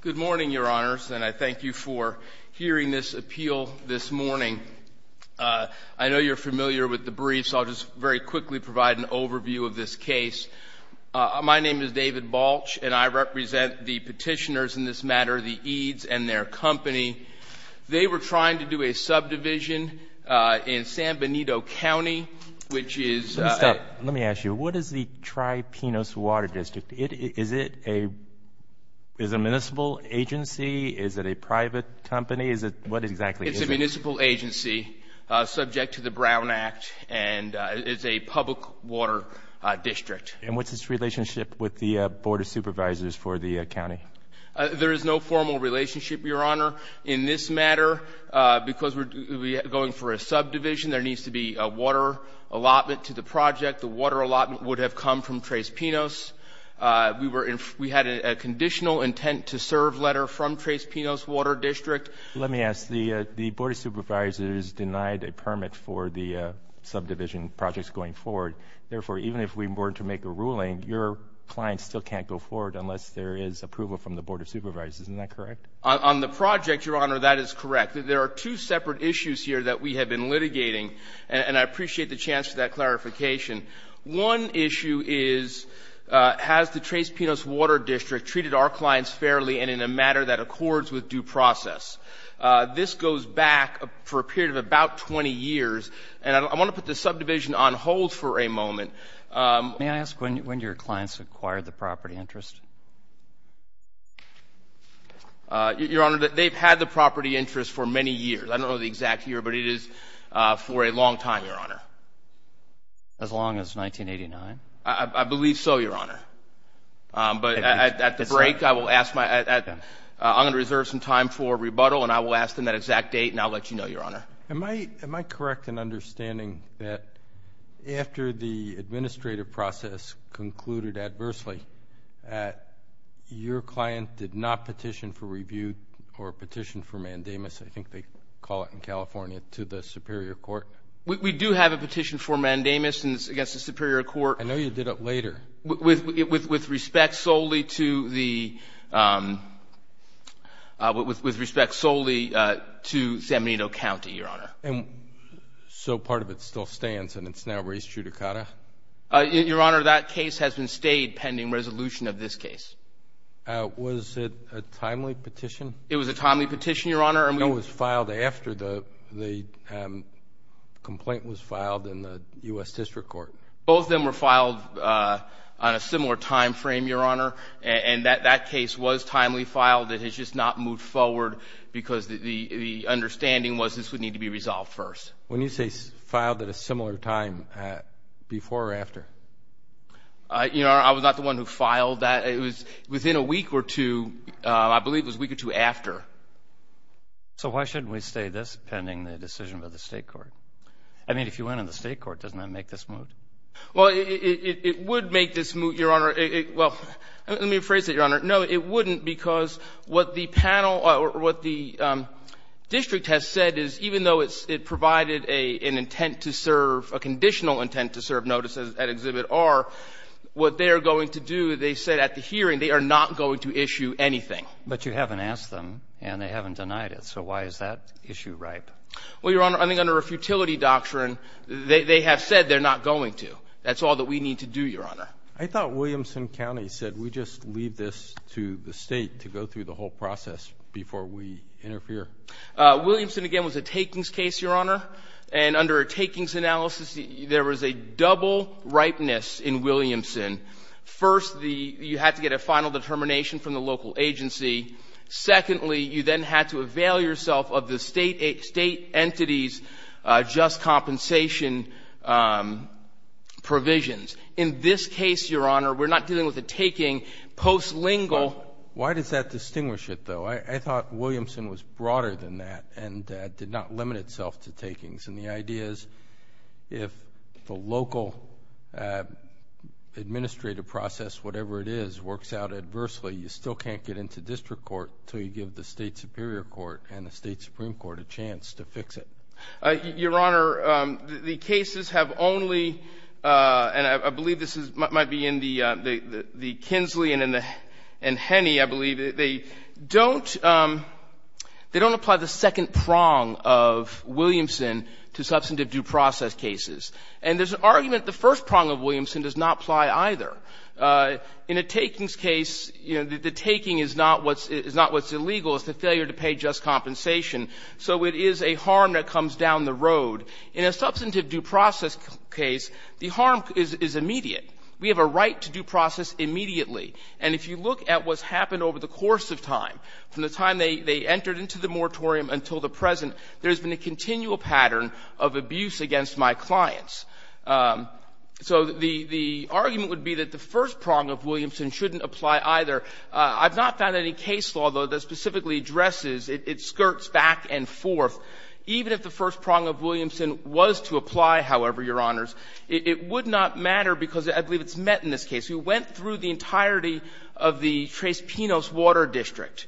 Good morning, Your Honors, and I thank you for hearing this appeal this morning. I know you're familiar with the brief, so I'll just very quickly provide an overview of this case. My name is David Balch, and I represent the petitioners in this matter, the Eades and their company. They were trying to do a subdivision in San Benito County, which is— Let me ask you, what is the Tres Pinos Water District? Is it a municipal agency? Is it a private company? What exactly is it? It's a municipal agency subject to the Brown Act, and it's a public water district. And what's its relationship with the Board of Supervisors for the county? There is no formal relationship, Your Honor. In this matter, because we're going for a subdivision, there needs to be a water allotment to the project. The water allotment would have come from Tres Pinos. We had a conditional intent to serve letter from Tres Pinos Water District. Let me ask. The Board of Supervisors denied a permit for the subdivision projects going forward. Therefore, even if we were to make a ruling, your client still can't go forward unless there is approval from the Board of Supervisors. Isn't that correct? On the project, Your Honor, that is correct. There are two separate issues here that we have been litigating, and I appreciate the chance for that clarification. One issue is, has the Tres Pinos Water District treated our clients fairly and in a matter that accords with due process? This goes back for a period of about 20 years. And I want to put the subdivision on hold for a moment. May I ask when your clients acquired the property interest? Your Honor, they've had the property interest for many years. I don't know the exact year, but it is for a long time, Your Honor. As long as 1989? I believe so, Your Honor. But at the break, I will ask my – I'm going to reserve some time for rebuttal, and I will ask them that exact date, and I'll let you know, Your Honor. Am I correct in understanding that after the administrative process concluded adversely, your client did not petition for review or petition for mandamus, I think they call it in California, to the Superior Court? We do have a petition for mandamus against the Superior Court. I know you did it later. With respect solely to the – with respect solely to San Benito County, Your Honor. And so part of it still stands, and it's now res judicata? Your Honor, that case has been stayed pending resolution of this case. Was it a timely petition? It was a timely petition, Your Honor. And it was filed after the complaint was filed in the U.S. District Court? Both of them were filed on a similar time frame, Your Honor. And that case was timely filed. It has just not moved forward because the understanding was this would need to be resolved first. When you say filed at a similar time, before or after? Your Honor, I was not the one who filed that. It was within a week or two. I believe it was a week or two after. So why shouldn't we stay this pending the decision by the State Court? I mean, if you went in the State Court, doesn't that make this moot? Well, it would make this moot, Your Honor. Well, let me rephrase it, Your Honor. No, it wouldn't because what the panel or what the district has said is even though it's – it provided an intent to serve, a conditional intent to serve notice at Exhibit R, what they are going to do, they said at the hearing, they are not going to issue anything. But you haven't asked them, and they haven't denied it. So why is that issue ripe? Well, Your Honor, I think under a futility doctrine, they have said they're not going to. That's all that we need to do, Your Honor. I thought Williamson County said, we just leave this to the State to go through the whole process before we interfere. Williamson, again, was a takings case, Your Honor. And under a takings analysis, there was a double ripeness in Williamson. First, you had to get a final determination from the local agency. Secondly, you then had to avail yourself of the State entity's just compensation provisions. In this case, Your Honor, we're not dealing with a taking. Postlingual – Well, why does that distinguish it, though? I thought Williamson was broader than that and did not limit itself to takings. And the idea is if the local administrative process, whatever it is, works out adversely, you still can't get into district court until you give the State superior court and the State supreme court a chance to fix it. Your Honor, the cases have only – and I believe this might be in the Kinsley and Henney, I believe. They don't apply the second prong of Williamson to substantive due process cases. And there's an argument the first prong of Williamson does not apply either. In a takings case, you know, the taking is not what's illegal. It's the failure to pay just compensation. So it is a harm that comes down the road. In a substantive due process case, the harm is immediate. We have a right to due process immediately. And if you look at what's happened over the course of time, from the time they entered into the moratorium until the present, there's been a continual pattern of abuse against my clients. So the argument would be that the first prong of Williamson shouldn't apply either. I've not found any case law, though, that specifically addresses its skirts back and forth. Even if the first prong of Williamson was to apply, however, Your Honors, it would not matter because I believe it's met in this case. We went through the entirety of the Tres Pinos water district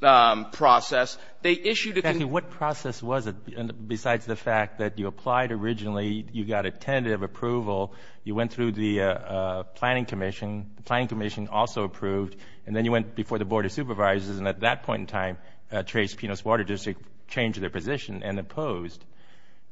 process. They issued a – What process was it, besides the fact that you applied originally, you got a tentative approval, you went through the planning commission, the planning commission also approved, and then you went before the Board of Supervisors, and at that point in time, Tres Pinos water district changed their position and opposed.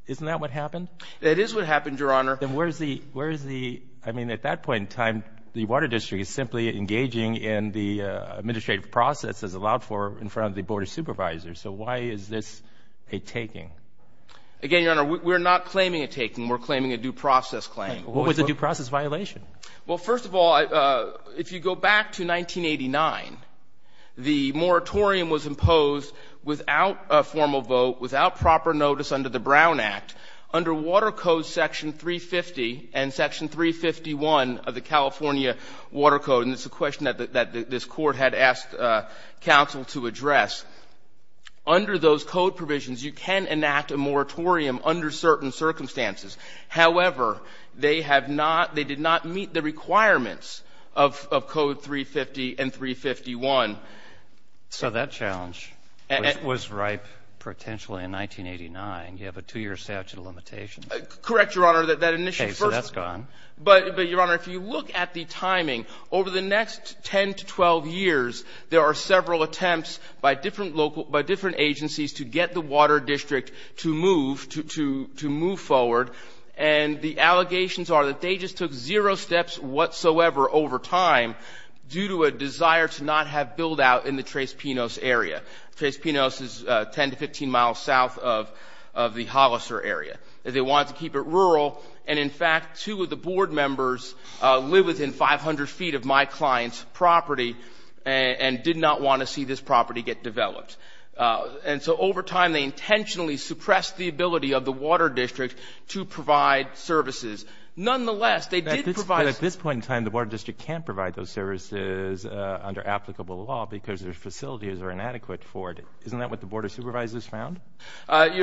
Isn't that what happened? It is what happened, Your Honor. Then where is the – I mean, at that point in time, the water district is simply engaging in the administrative process as allowed for in front of the Board of Supervisors. So why is this a taking? Again, Your Honor, we're not claiming a taking. We're claiming a due process claim. What was the due process violation? Well, first of all, if you go back to 1989, the moratorium was imposed without a formal vote, without proper notice under the Brown Act, under Water Code Section 350 and Section 351 of the California Water Code, and it's a question that this Council to address. Under those code provisions, you can enact a moratorium under certain circumstances. However, they have not – they did not meet the requirements of Code 350 and 351. So that challenge was ripe potentially in 1989. You have a two-year statute of limitations. Correct, Your Honor. Okay. So that's gone. But, Your Honor, if you look at the timing, over the next 10 to 12 years, there are several attempts by different local – by different agencies to get the water district to move forward, and the allegations are that they just took zero steps whatsoever over time due to a desire to not have build-out in the Tres Pinos area. Tres Pinos is 10 to 15 miles south of the Hollister area. They wanted to keep it rural, and in fact, two of the board members live within 500 feet of my client's property and did not want to see this property get developed. And so over time, they intentionally suppressed the ability of the water district to provide services. Nonetheless, they did provide – But at this point in time, the water district can't provide those services under applicable law because their facilities are inadequate for it. Isn't that what the board of supervisors found? And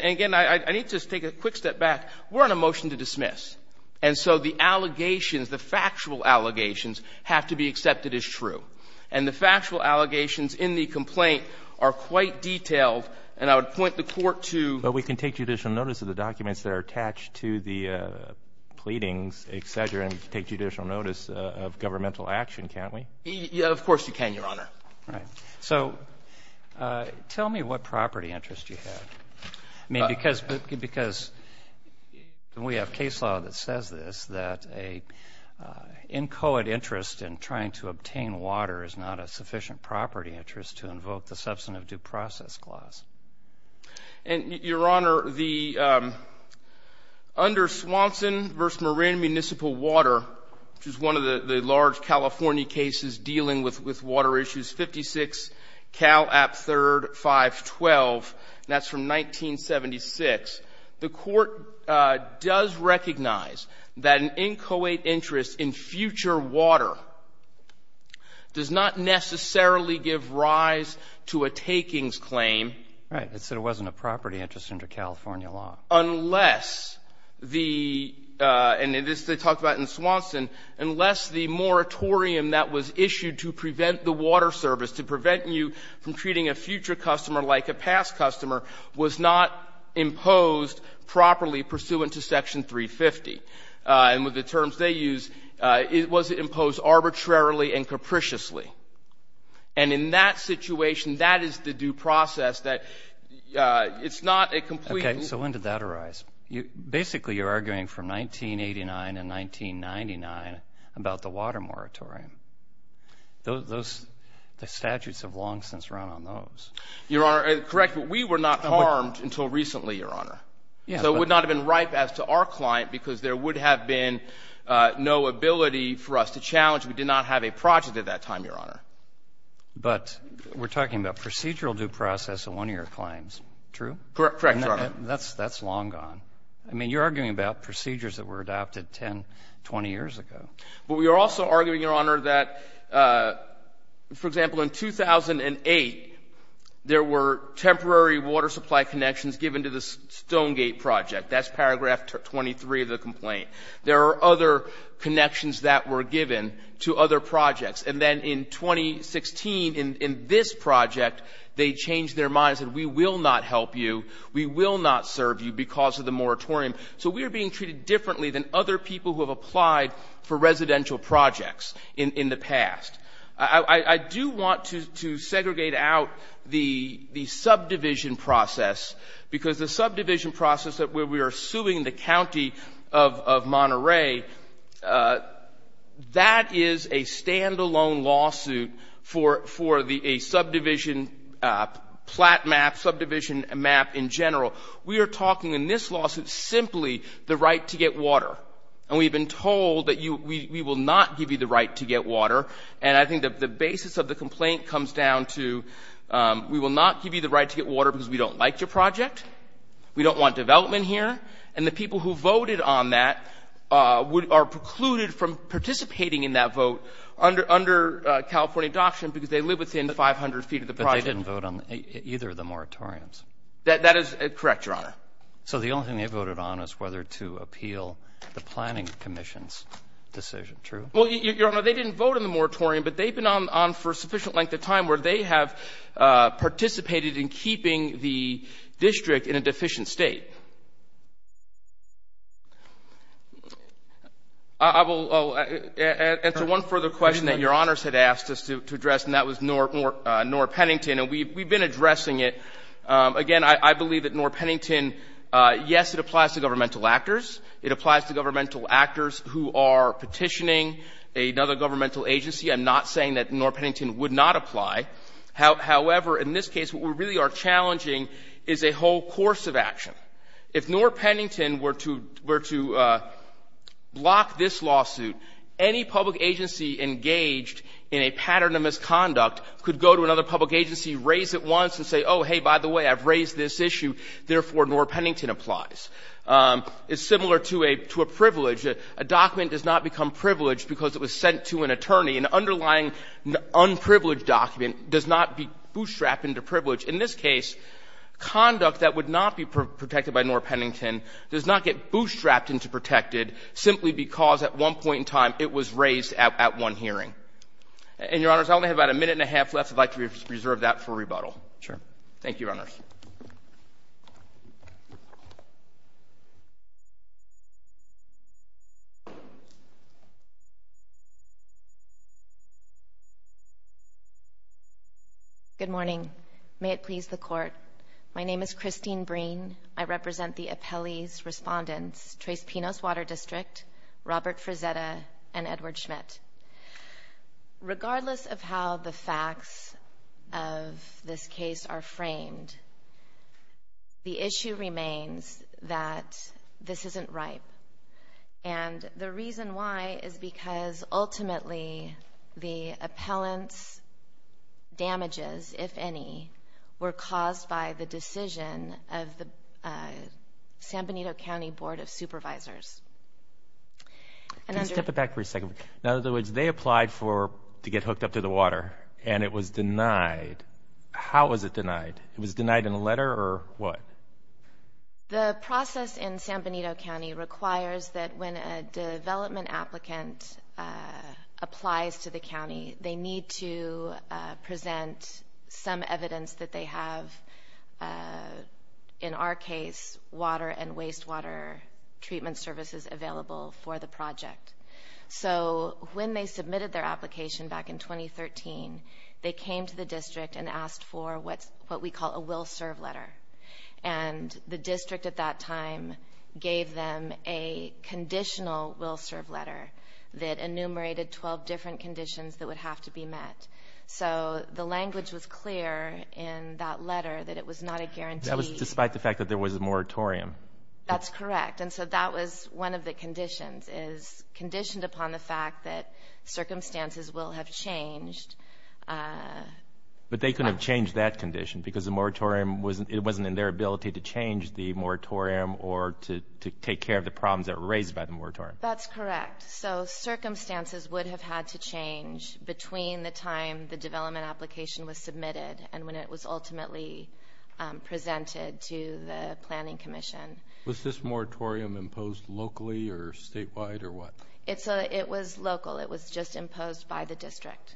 again, I need to take a quick step back. We're on a motion to dismiss, and so the allegations, the factual allegations have to be accepted as true. And the factual allegations in the complaint are quite detailed, and I would point the Court to – But we can take judicial notice of the documents that are attached to the pleadings, et cetera, and take judicial notice of governmental action, can't we? Of course you can, Your Honor. All right. So tell me what property interest you have. I mean, because we have case law that says this, that an inchoate interest in trying to obtain water is not a sufficient property interest to invoke the substantive due process clause. And, Your Honor, under Swanson v. Moran Municipal Water, which is one of the large California cases dealing with water issues, 56 Cal App III 512, and that's from 1976, the Court does recognize that an inchoate interest in future water does not necessarily give rise to a takings claim. Right. It said it wasn't a property interest under California law. Unless the – and this they talked about in Swanson – unless the moratorium that was issued to prevent the water service, to prevent you from treating a future customer like a past customer, was not imposed properly pursuant to Section 350. And with the terms they use, it was imposed arbitrarily and capriciously. And in that situation, that is the due process that it's not a complete – It's not a complete and utterized. Basically, you're arguing from 1989 and 1999 about the water moratorium. Those – the statutes have long since run on those. Your Honor, correct, but we were not harmed until recently, Your Honor. Yes, but – So it would not have been ripe as to our client because there would have been no ability for us to challenge. We did not have a project at that time, Your Honor. But we're talking about procedural due process in one of your claims. True? Correct, Your Honor. That's long gone. I mean, you're arguing about procedures that were adopted 10, 20 years ago. But we are also arguing, Your Honor, that, for example, in 2008, there were temporary water supply connections given to the Stonegate project. That's paragraph 23 of the complaint. There are other connections that were given to other projects. And then in 2016, in this project, they changed their minds and said, we will not help you, we will not serve you because of the moratorium. So we are being treated differently than other people who have applied for residential projects in the past. I do want to segregate out the subdivision process because the subdivision process where we are suing the county of Monterey, that is a stand-alone lawsuit for a subdivision flat map, subdivision map in general. We are talking in this lawsuit simply the right to get water. And we have been told that we will not give you the right to get water. And I think the basis of the complaint comes down to we will not give you the right to get water because we don't like your project, we don't want development here. And the people who voted on that are precluded from participating in that vote under California doctrine because they live within 500 feet of the project. They didn't vote on either of the moratoriums. That is correct, Your Honor. So the only thing they voted on is whether to appeal the Planning Commission's decision. True? Well, Your Honor, they didn't vote on the moratorium, but they've been on for a sufficient length of time where they have participated in keeping the district in a deficient state. I will answer one further question that Your Honors had asked us to address, and that was Noor Pennington. And we've been addressing it. Again, I believe that Noor Pennington, yes, it applies to governmental actors. It applies to governmental actors who are petitioning another governmental agency. I'm not saying that Noor Pennington would not apply. However, in this case, what we really are challenging is a whole course of action. If Noor Pennington were to block this lawsuit, any public agency engaged in a pattern of misconduct could go to another public agency, raise it once, and say, oh, hey, by the way, I've raised this issue, therefore, Noor Pennington applies. It's similar to a privilege. A document does not become privileged because it was sent to an attorney. An underlying unprivileged document does not be bootstrapped into privilege. In this case, conduct that would not be protected by Noor Pennington does not get bootstrapped into protected simply because at one point in time it was raised at one hearing. And, Your Honors, I only have about a minute and a half left. I'd like to reserve that for rebuttal. Thank you, Your Honors. Good morning. May it please the Court. My name is Christine Breen. I represent the appellee's respondents, Trace Pinos Water District, Robert Frazetta, and Edward Schmidt. Regardless of how the facts of this case are framed, the issue remains that this isn't ripe. And the reason why is because ultimately the appellant's damages, if any, were caused by the decision of the San Benito County Board of Supervisors. Can you step it back for a second? In other words, they applied to get hooked up to the water, and it was denied. How was it denied? It was denied in a letter or what? The process in San Benito County requires that when a development applicant applies to the county, they need to present some evidence that they have, in our case, water and resources available for the project. So when they submitted their application back in 2013, they came to the district and asked for what we call a will-serve letter. And the district at that time gave them a conditional will-serve letter that enumerated 12 different conditions that would have to be met. So the language was clear in that letter that it was not a guarantee. That was despite the fact that there was a moratorium. That's correct. And so that was one of the conditions, is conditioned upon the fact that circumstances will have changed. But they couldn't have changed that condition because the moratorium wasn't in their ability to change the moratorium or to take care of the problems that were raised by the moratorium. That's correct. So circumstances would have had to change between the time the development application was submitted and when it was ultimately presented to the planning commission. Was this moratorium imposed locally or statewide or what? It was local. It was just imposed by the district.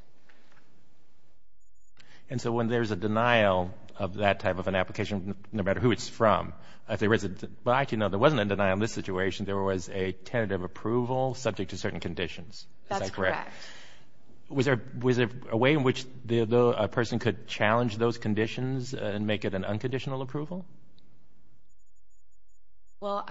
And so when there's a denial of that type of an application, no matter who it's from, if there is a – well, actually, no, there wasn't a denial in this situation. There was a tentative approval subject to certain conditions. Is that correct? That's correct. Was there a way in which a person could challenge those conditions and make it an unconditional approval? Well,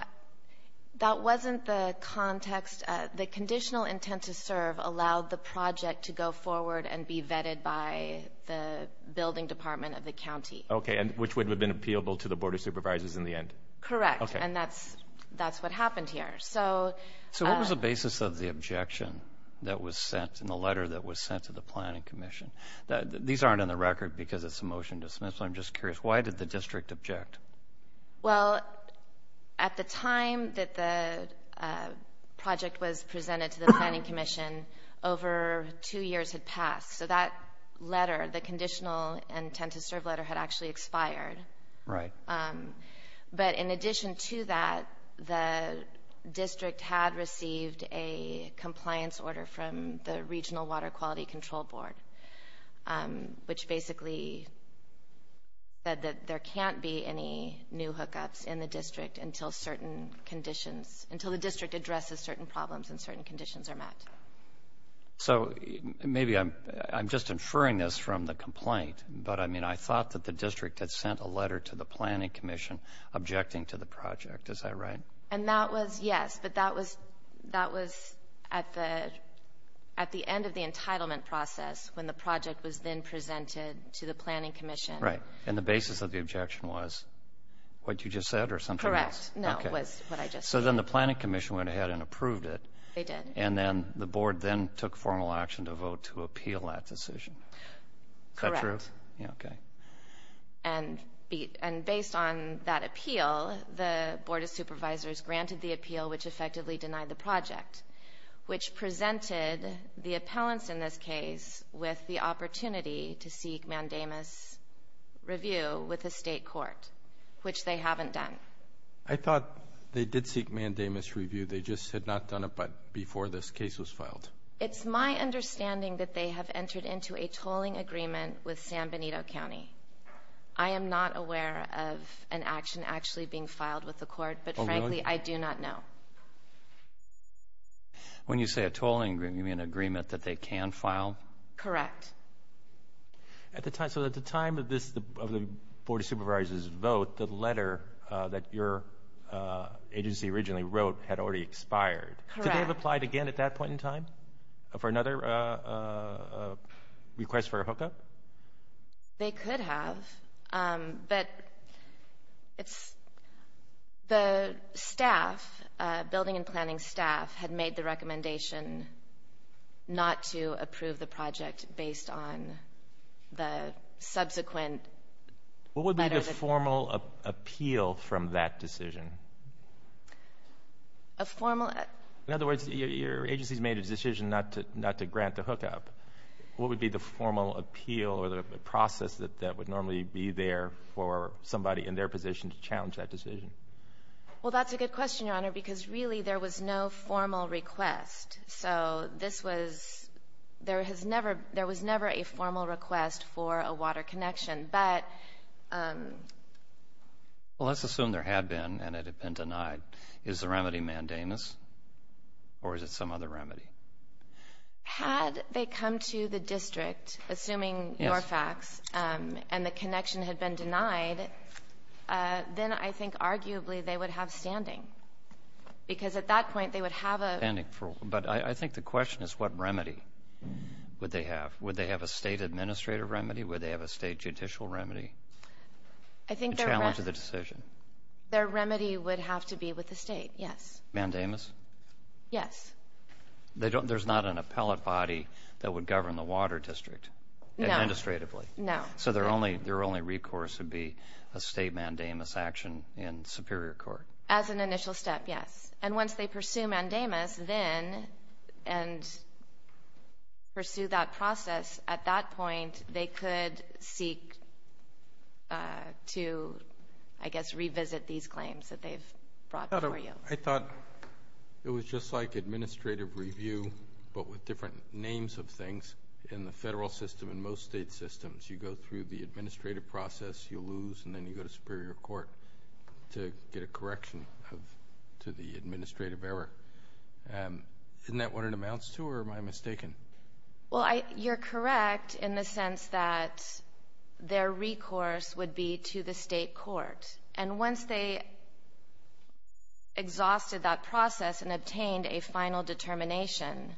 that wasn't the context. The conditional intent to serve allowed the project to go forward and be vetted by the building department of the county. Okay. And which would have been appealable to the board of supervisors in the end. Correct. Okay. And that's what happened here. So what was the basis of the objection that was sent in the letter that was sent to the planning commission? These aren't on the record because it's a motion to dismiss, so I'm just curious, why did the district object? Well, at the time that the project was presented to the planning commission, over two years had passed. So that letter, the conditional intent to serve letter, had actually expired. Right. But in addition to that, the district had received a compliance order from the Regional Water Quality Control Board, which basically said that there can't be any new hookups in the district until the district addresses certain problems and certain conditions are met. So maybe I'm just inferring this from the complaint, but, I mean, I thought that the district had sent a letter to the planning commission objecting to the project. Is that right? And that was, yes, but that was at the end of the entitlement process when the project was then presented to the planning commission. Right. And the basis of the objection was what you just said or something else? Correct. No, it was what I just said. So then the planning commission went ahead and approved it. They did. And then the board then took formal action to vote to appeal that decision. Is that true? Correct. Okay. And based on that appeal, the Board of Supervisors granted the appeal, which effectively denied the project, which presented the appellants in this case with the opportunity to seek mandamus review with the state court, which they haven't done. I thought they did seek mandamus review. They just had not done it before this case was filed. It's my understanding that they have entered into a tolling agreement with San Benito County. I am not aware of an action actually being filed with the court, but, frankly, I do not know. When you say a tolling agreement, you mean an agreement that they can file? Correct. So at the time of the Board of Supervisors' vote, the letter that your agency originally wrote had already expired. Correct. Would they have applied again at that point in time for another request for a hookup? They could have, but the staff, building and planning staff, had made the recommendation not to approve the project based on the subsequent letter. What would be the formal appeal from that decision? A formal? In other words, your agency has made a decision not to grant the hookup. What would be the formal appeal or the process that would normally be there for somebody in their position to challenge that decision? Well, that's a good question, Your Honor, because really there was no formal request. So this was ñ there has never ñ there was never a formal request for a water connection. Well, let's assume there had been and it had been denied. Is the remedy mandamus or is it some other remedy? Had they come to the district, assuming Norfax, and the connection had been denied, then I think arguably they would have standing because at that point they would have a ñ But I think the question is what remedy would they have. Would they have a state administrative remedy? Would they have a state judicial remedy to challenge the decision? Their remedy would have to be with the state, yes. Mandamus? Yes. There's not an appellate body that would govern the water district administratively? No. So their only recourse would be a state mandamus action in Superior Court? As an initial step, yes. And once they pursue mandamus then and pursue that process, at that point they could seek to, I guess, revisit these claims that they've brought for you. I thought it was just like administrative review but with different names of things. In the federal system and most state systems, you go through the administrative process, you lose, and then you go to Superior Court to get a correction to the administrative error. Isn't that what it amounts to or am I mistaken? Well, you're correct in the sense that their recourse would be to the state court. And once they exhausted that process and obtained a final determination,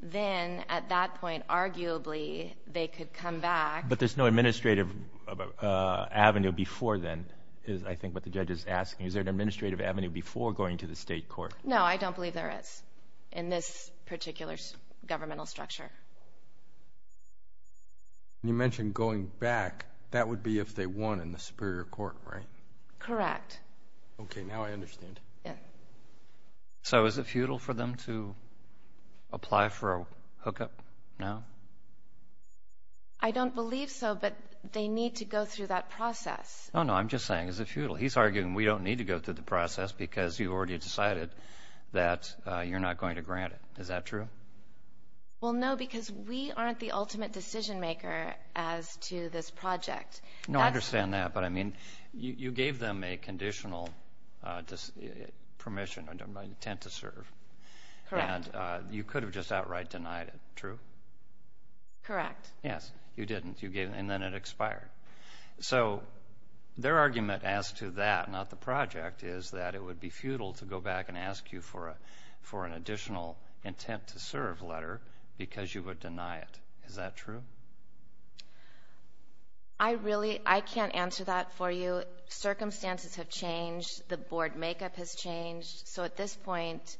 then at that point arguably they could come back. But there's no administrative avenue before then is, I think, what the judge is asking. Is there an administrative avenue before going to the state court? No, I don't believe there is in this particular governmental structure. You mentioned going back. That would be if they won in the Superior Court, right? Correct. Okay, now I understand. So is it futile for them to apply for a hookup now? I don't believe so, but they need to go through that process. No, no, I'm just saying it's futile. He's arguing we don't need to go through the process because you already decided that you're not going to grant it. Is that true? Well, no, because we aren't the ultimate decision maker as to this project. No, I understand that, but, I mean, you gave them a conditional permission, an intent to serve. Correct. And you could have just outright denied it, true? Correct. Yes, you didn't, and then it expired. So their argument as to that, not the project, is that it would be futile to go back and ask you for an additional intent to serve letter because you would deny it. Is that true? I really can't answer that for you. Circumstances have changed. The board makeup has changed. So at this point,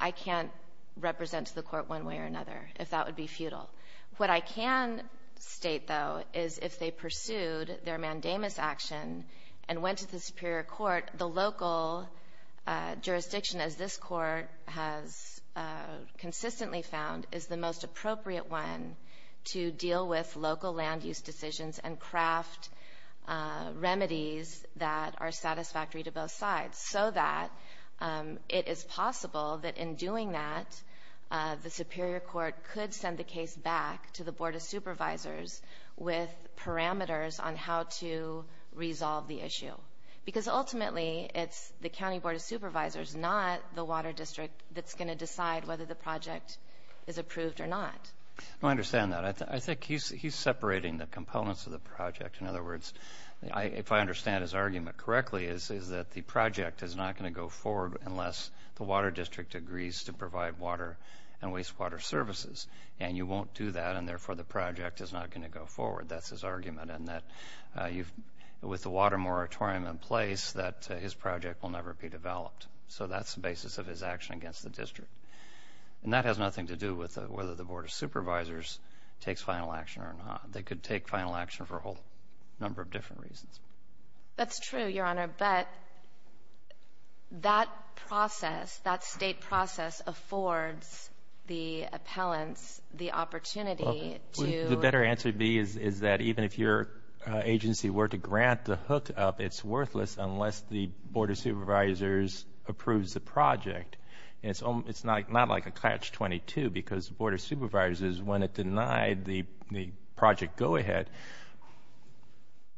I can't represent the court one way or another if that would be futile. What I can state, though, is if they pursued their mandamus action and went to the Superior Court, the local jurisdiction, as this court has consistently found, is the most appropriate one to deal with local land use decisions and craft remedies that are satisfactory to both sides so that it is possible that in doing that, the Superior Court could send the case back to the Board of Supervisors with parameters on how to resolve the issue. Because ultimately, it's the County Board of Supervisors, not the Water District, that's going to decide whether the project is approved or not. No, I understand that. I think he's separating the components of the project. In other words, if I understand his argument correctly, it's that the project is not going to go forward unless the Water District agrees to provide water and wastewater services. And you won't do that, and therefore the project is not going to go forward. That's his argument. And with the water moratorium in place, his project will never be developed. So that's the basis of his action against the district. And that has nothing to do with whether the Board of Supervisors takes final action or not. They could take final action for a whole number of different reasons. That's true, Your Honor. But that process, that state process, affords the appellants the opportunity to... The better answer would be is that even if your agency were to grant the hookup, it's worthless unless the Board of Supervisors approves the project. And it's not like a catch-22 because the Board of Supervisors, when it denied the project go-ahead,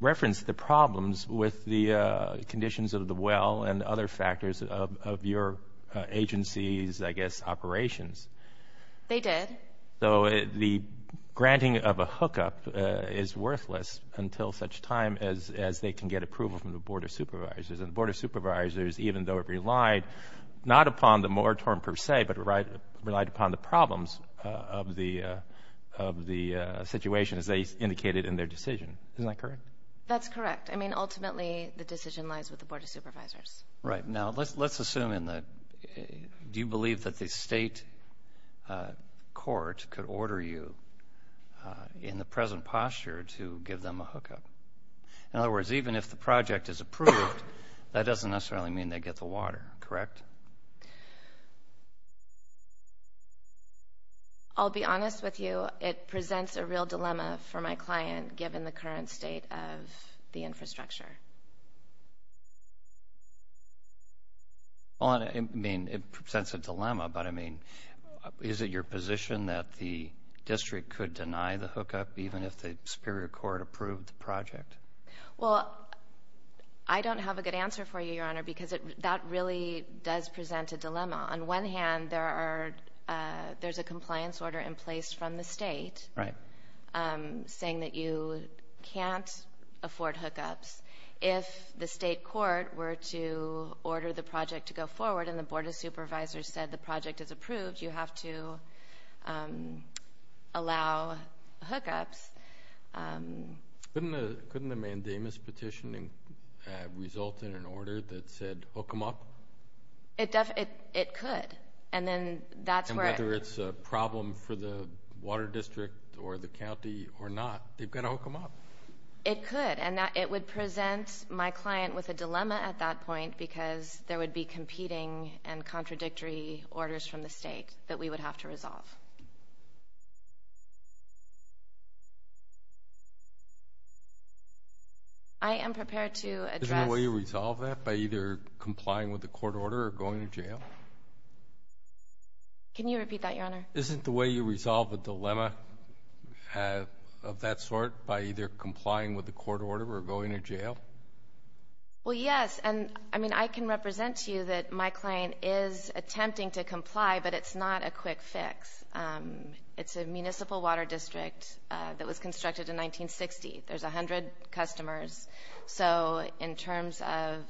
referenced the problems with the conditions of the well and other factors of your agency's, I guess, operations. They did. So the granting of a hookup is worthless until such time as they can get approval from the Board of Supervisors. And the Board of Supervisors, even though it relied not upon the moratorium per se, but relied upon the problems of the situation as they indicated in their decision. Isn't that correct? That's correct. I mean, ultimately, the decision lies with the Board of Supervisors. Right. Now, let's assume in the... Do you believe that the state court could order you in the present posture to give them a hookup? In other words, even if the project is approved, that doesn't necessarily mean they get the water, correct? I'll be honest with you. It presents a real dilemma for my client, given the current state of the infrastructure. I mean, it presents a dilemma, but, I mean, is it your position that the district could deny the hookup, even if the Superior Court approved the project? Well, I don't have a good answer for you, Your Honor, because that really does present a dilemma. On one hand, there's a compliance order in place from the state saying that you can't afford hookups. If the state court were to order the project to go forward and the Board of Supervisors said the project is approved, you have to allow hookups. Couldn't a mandamus petition result in an order that said hook them up? It could, and then that's where... And whether it's a problem for the water district or the county or not, they've got to hook them up. It could, and it would present my client with a dilemma at that point because there would be competing and contradictory orders from the state that we would have to resolve. I am prepared to address... Isn't there a way to resolve that by either complying with the court order or going to jail? Can you repeat that, Your Honor? Isn't the way you resolve a dilemma of that sort by either complying with the court order or going to jail? Well, yes, and I mean, I can represent to you that my client is attempting to comply, but it's not a quick fix. It's a municipal water district that was constructed in 1960. There's 100 customers, so in terms of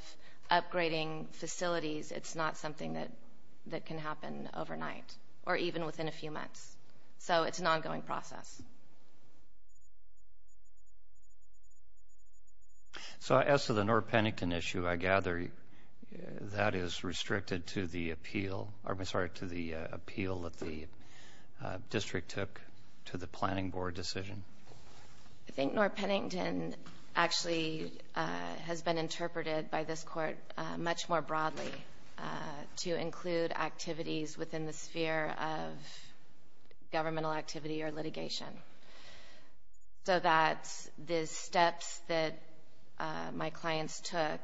upgrading facilities, it's not something that can happen overnight or even within a few months, so it's an ongoing process. So as to the Noor-Pennington issue, I gather that is restricted to the appeal... I'm sorry, to the appeal that the district took to the planning board decision. I think Noor-Pennington actually has been interpreted by this court much more broadly to include activities within the sphere of governmental activity or litigation so that the steps that my clients took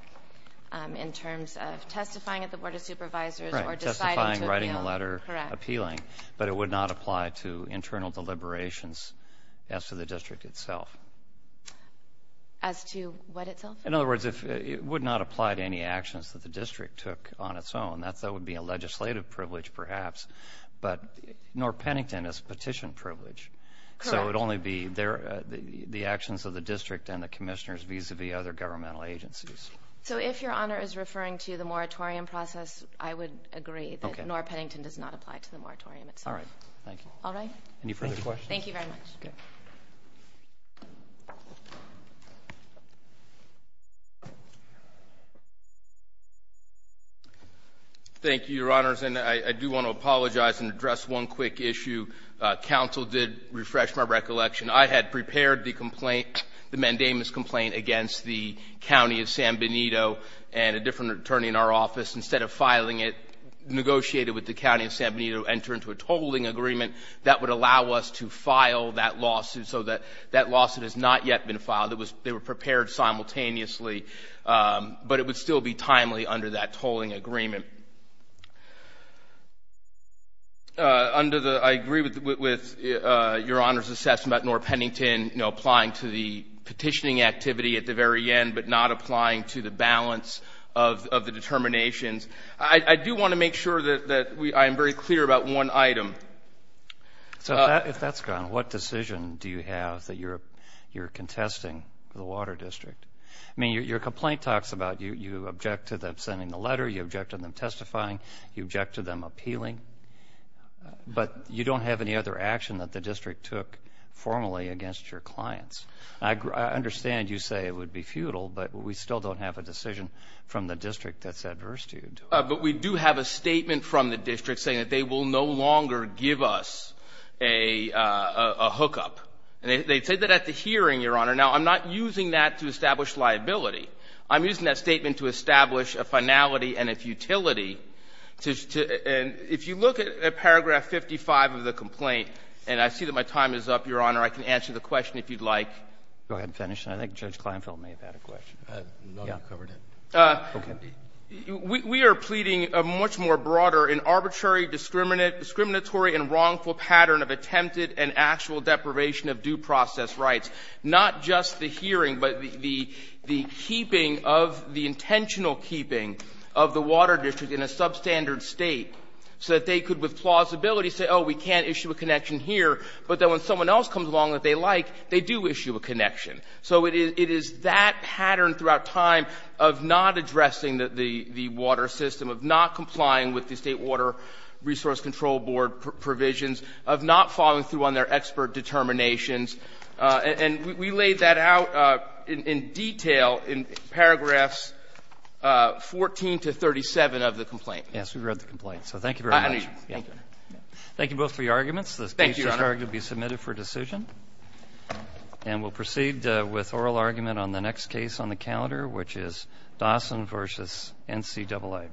in terms of testifying at the Board of Supervisors...... or deciding to appeal. Testifying, writing a letter, appealing, but it would not apply to internal deliberations as to the district itself. As to what itself? In other words, it would not apply to any actions that the district took on its own. That would be a legislative privilege, perhaps, but Noor-Pennington is a petition privilege. Correct. So it would only be the actions of the district and the commissioners vis-à-vis other governmental agencies. So if Your Honor is referring to the moratorium process, I would agree that Noor-Pennington does not apply to the moratorium itself. All right. Thank you. All right. Any further questions? Thank you very much. Okay. Thank you, Your Honors. And I do want to apologize and address one quick issue. Counsel did refresh my recollection. I had prepared the complaint, the mandamus complaint, against the County of San Benito and a different attorney in our office. Instead of filing it, negotiated with the County of San Benito, enter into a tolling agreement that would allow us to file that lawsuit, so that that lawsuit has not yet been filed. They were prepared simultaneously, but it would still be timely under that tolling agreement. I agree with Your Honor's assessment about Noor-Pennington applying to the petitioning activity at the very end, but not applying to the balance of the determinations. I do want to make sure that I am very clear about one item. So if that's gone, what decision do you have that you're contesting for the water district? I mean, your complaint talks about you object to them sending the letter, you object to them testifying, you object to them appealing, but you don't have any other action that the district took formally against your clients. I understand you say it would be futile, but we still don't have a decision from the district that's adverse to you. But we do have a statement from the district saying that they will no longer give us a hookup. And they said that at the hearing, Your Honor. Now, I'm not using that to establish liability. I'm using that statement to establish a finality and a futility. And if you look at paragraph 55 of the complaint, and I see that my time is up, Your Honor, I can answer the question if you'd like. Go ahead and finish, and I think Judge Kleinfeld may have had a question. No, you covered it. Okay. We are pleading a much more broader and arbitrary discriminatory and wrongful pattern of attempted and actual deprivation of due process rights, not just the hearing, but the keeping of the intentional keeping of the water district in a substandard State so that they could with plausibility say, oh, we can't issue a connection here, but then when someone else comes along that they like, they do issue a connection. So it is that pattern throughout time of not addressing the water system, of not complying with the State Water Resource Control Board provisions, of not following through on their expert determinations. And we laid that out in detail in paragraphs 14 to 37 of the complaint. Yes, we read the complaint. So thank you very much. Thank you both for your arguments. Thank you, Your Honor. This argument will be submitted for decision, and we'll proceed with oral argument on the next case on the calendar, which is Dawson v. NCAA.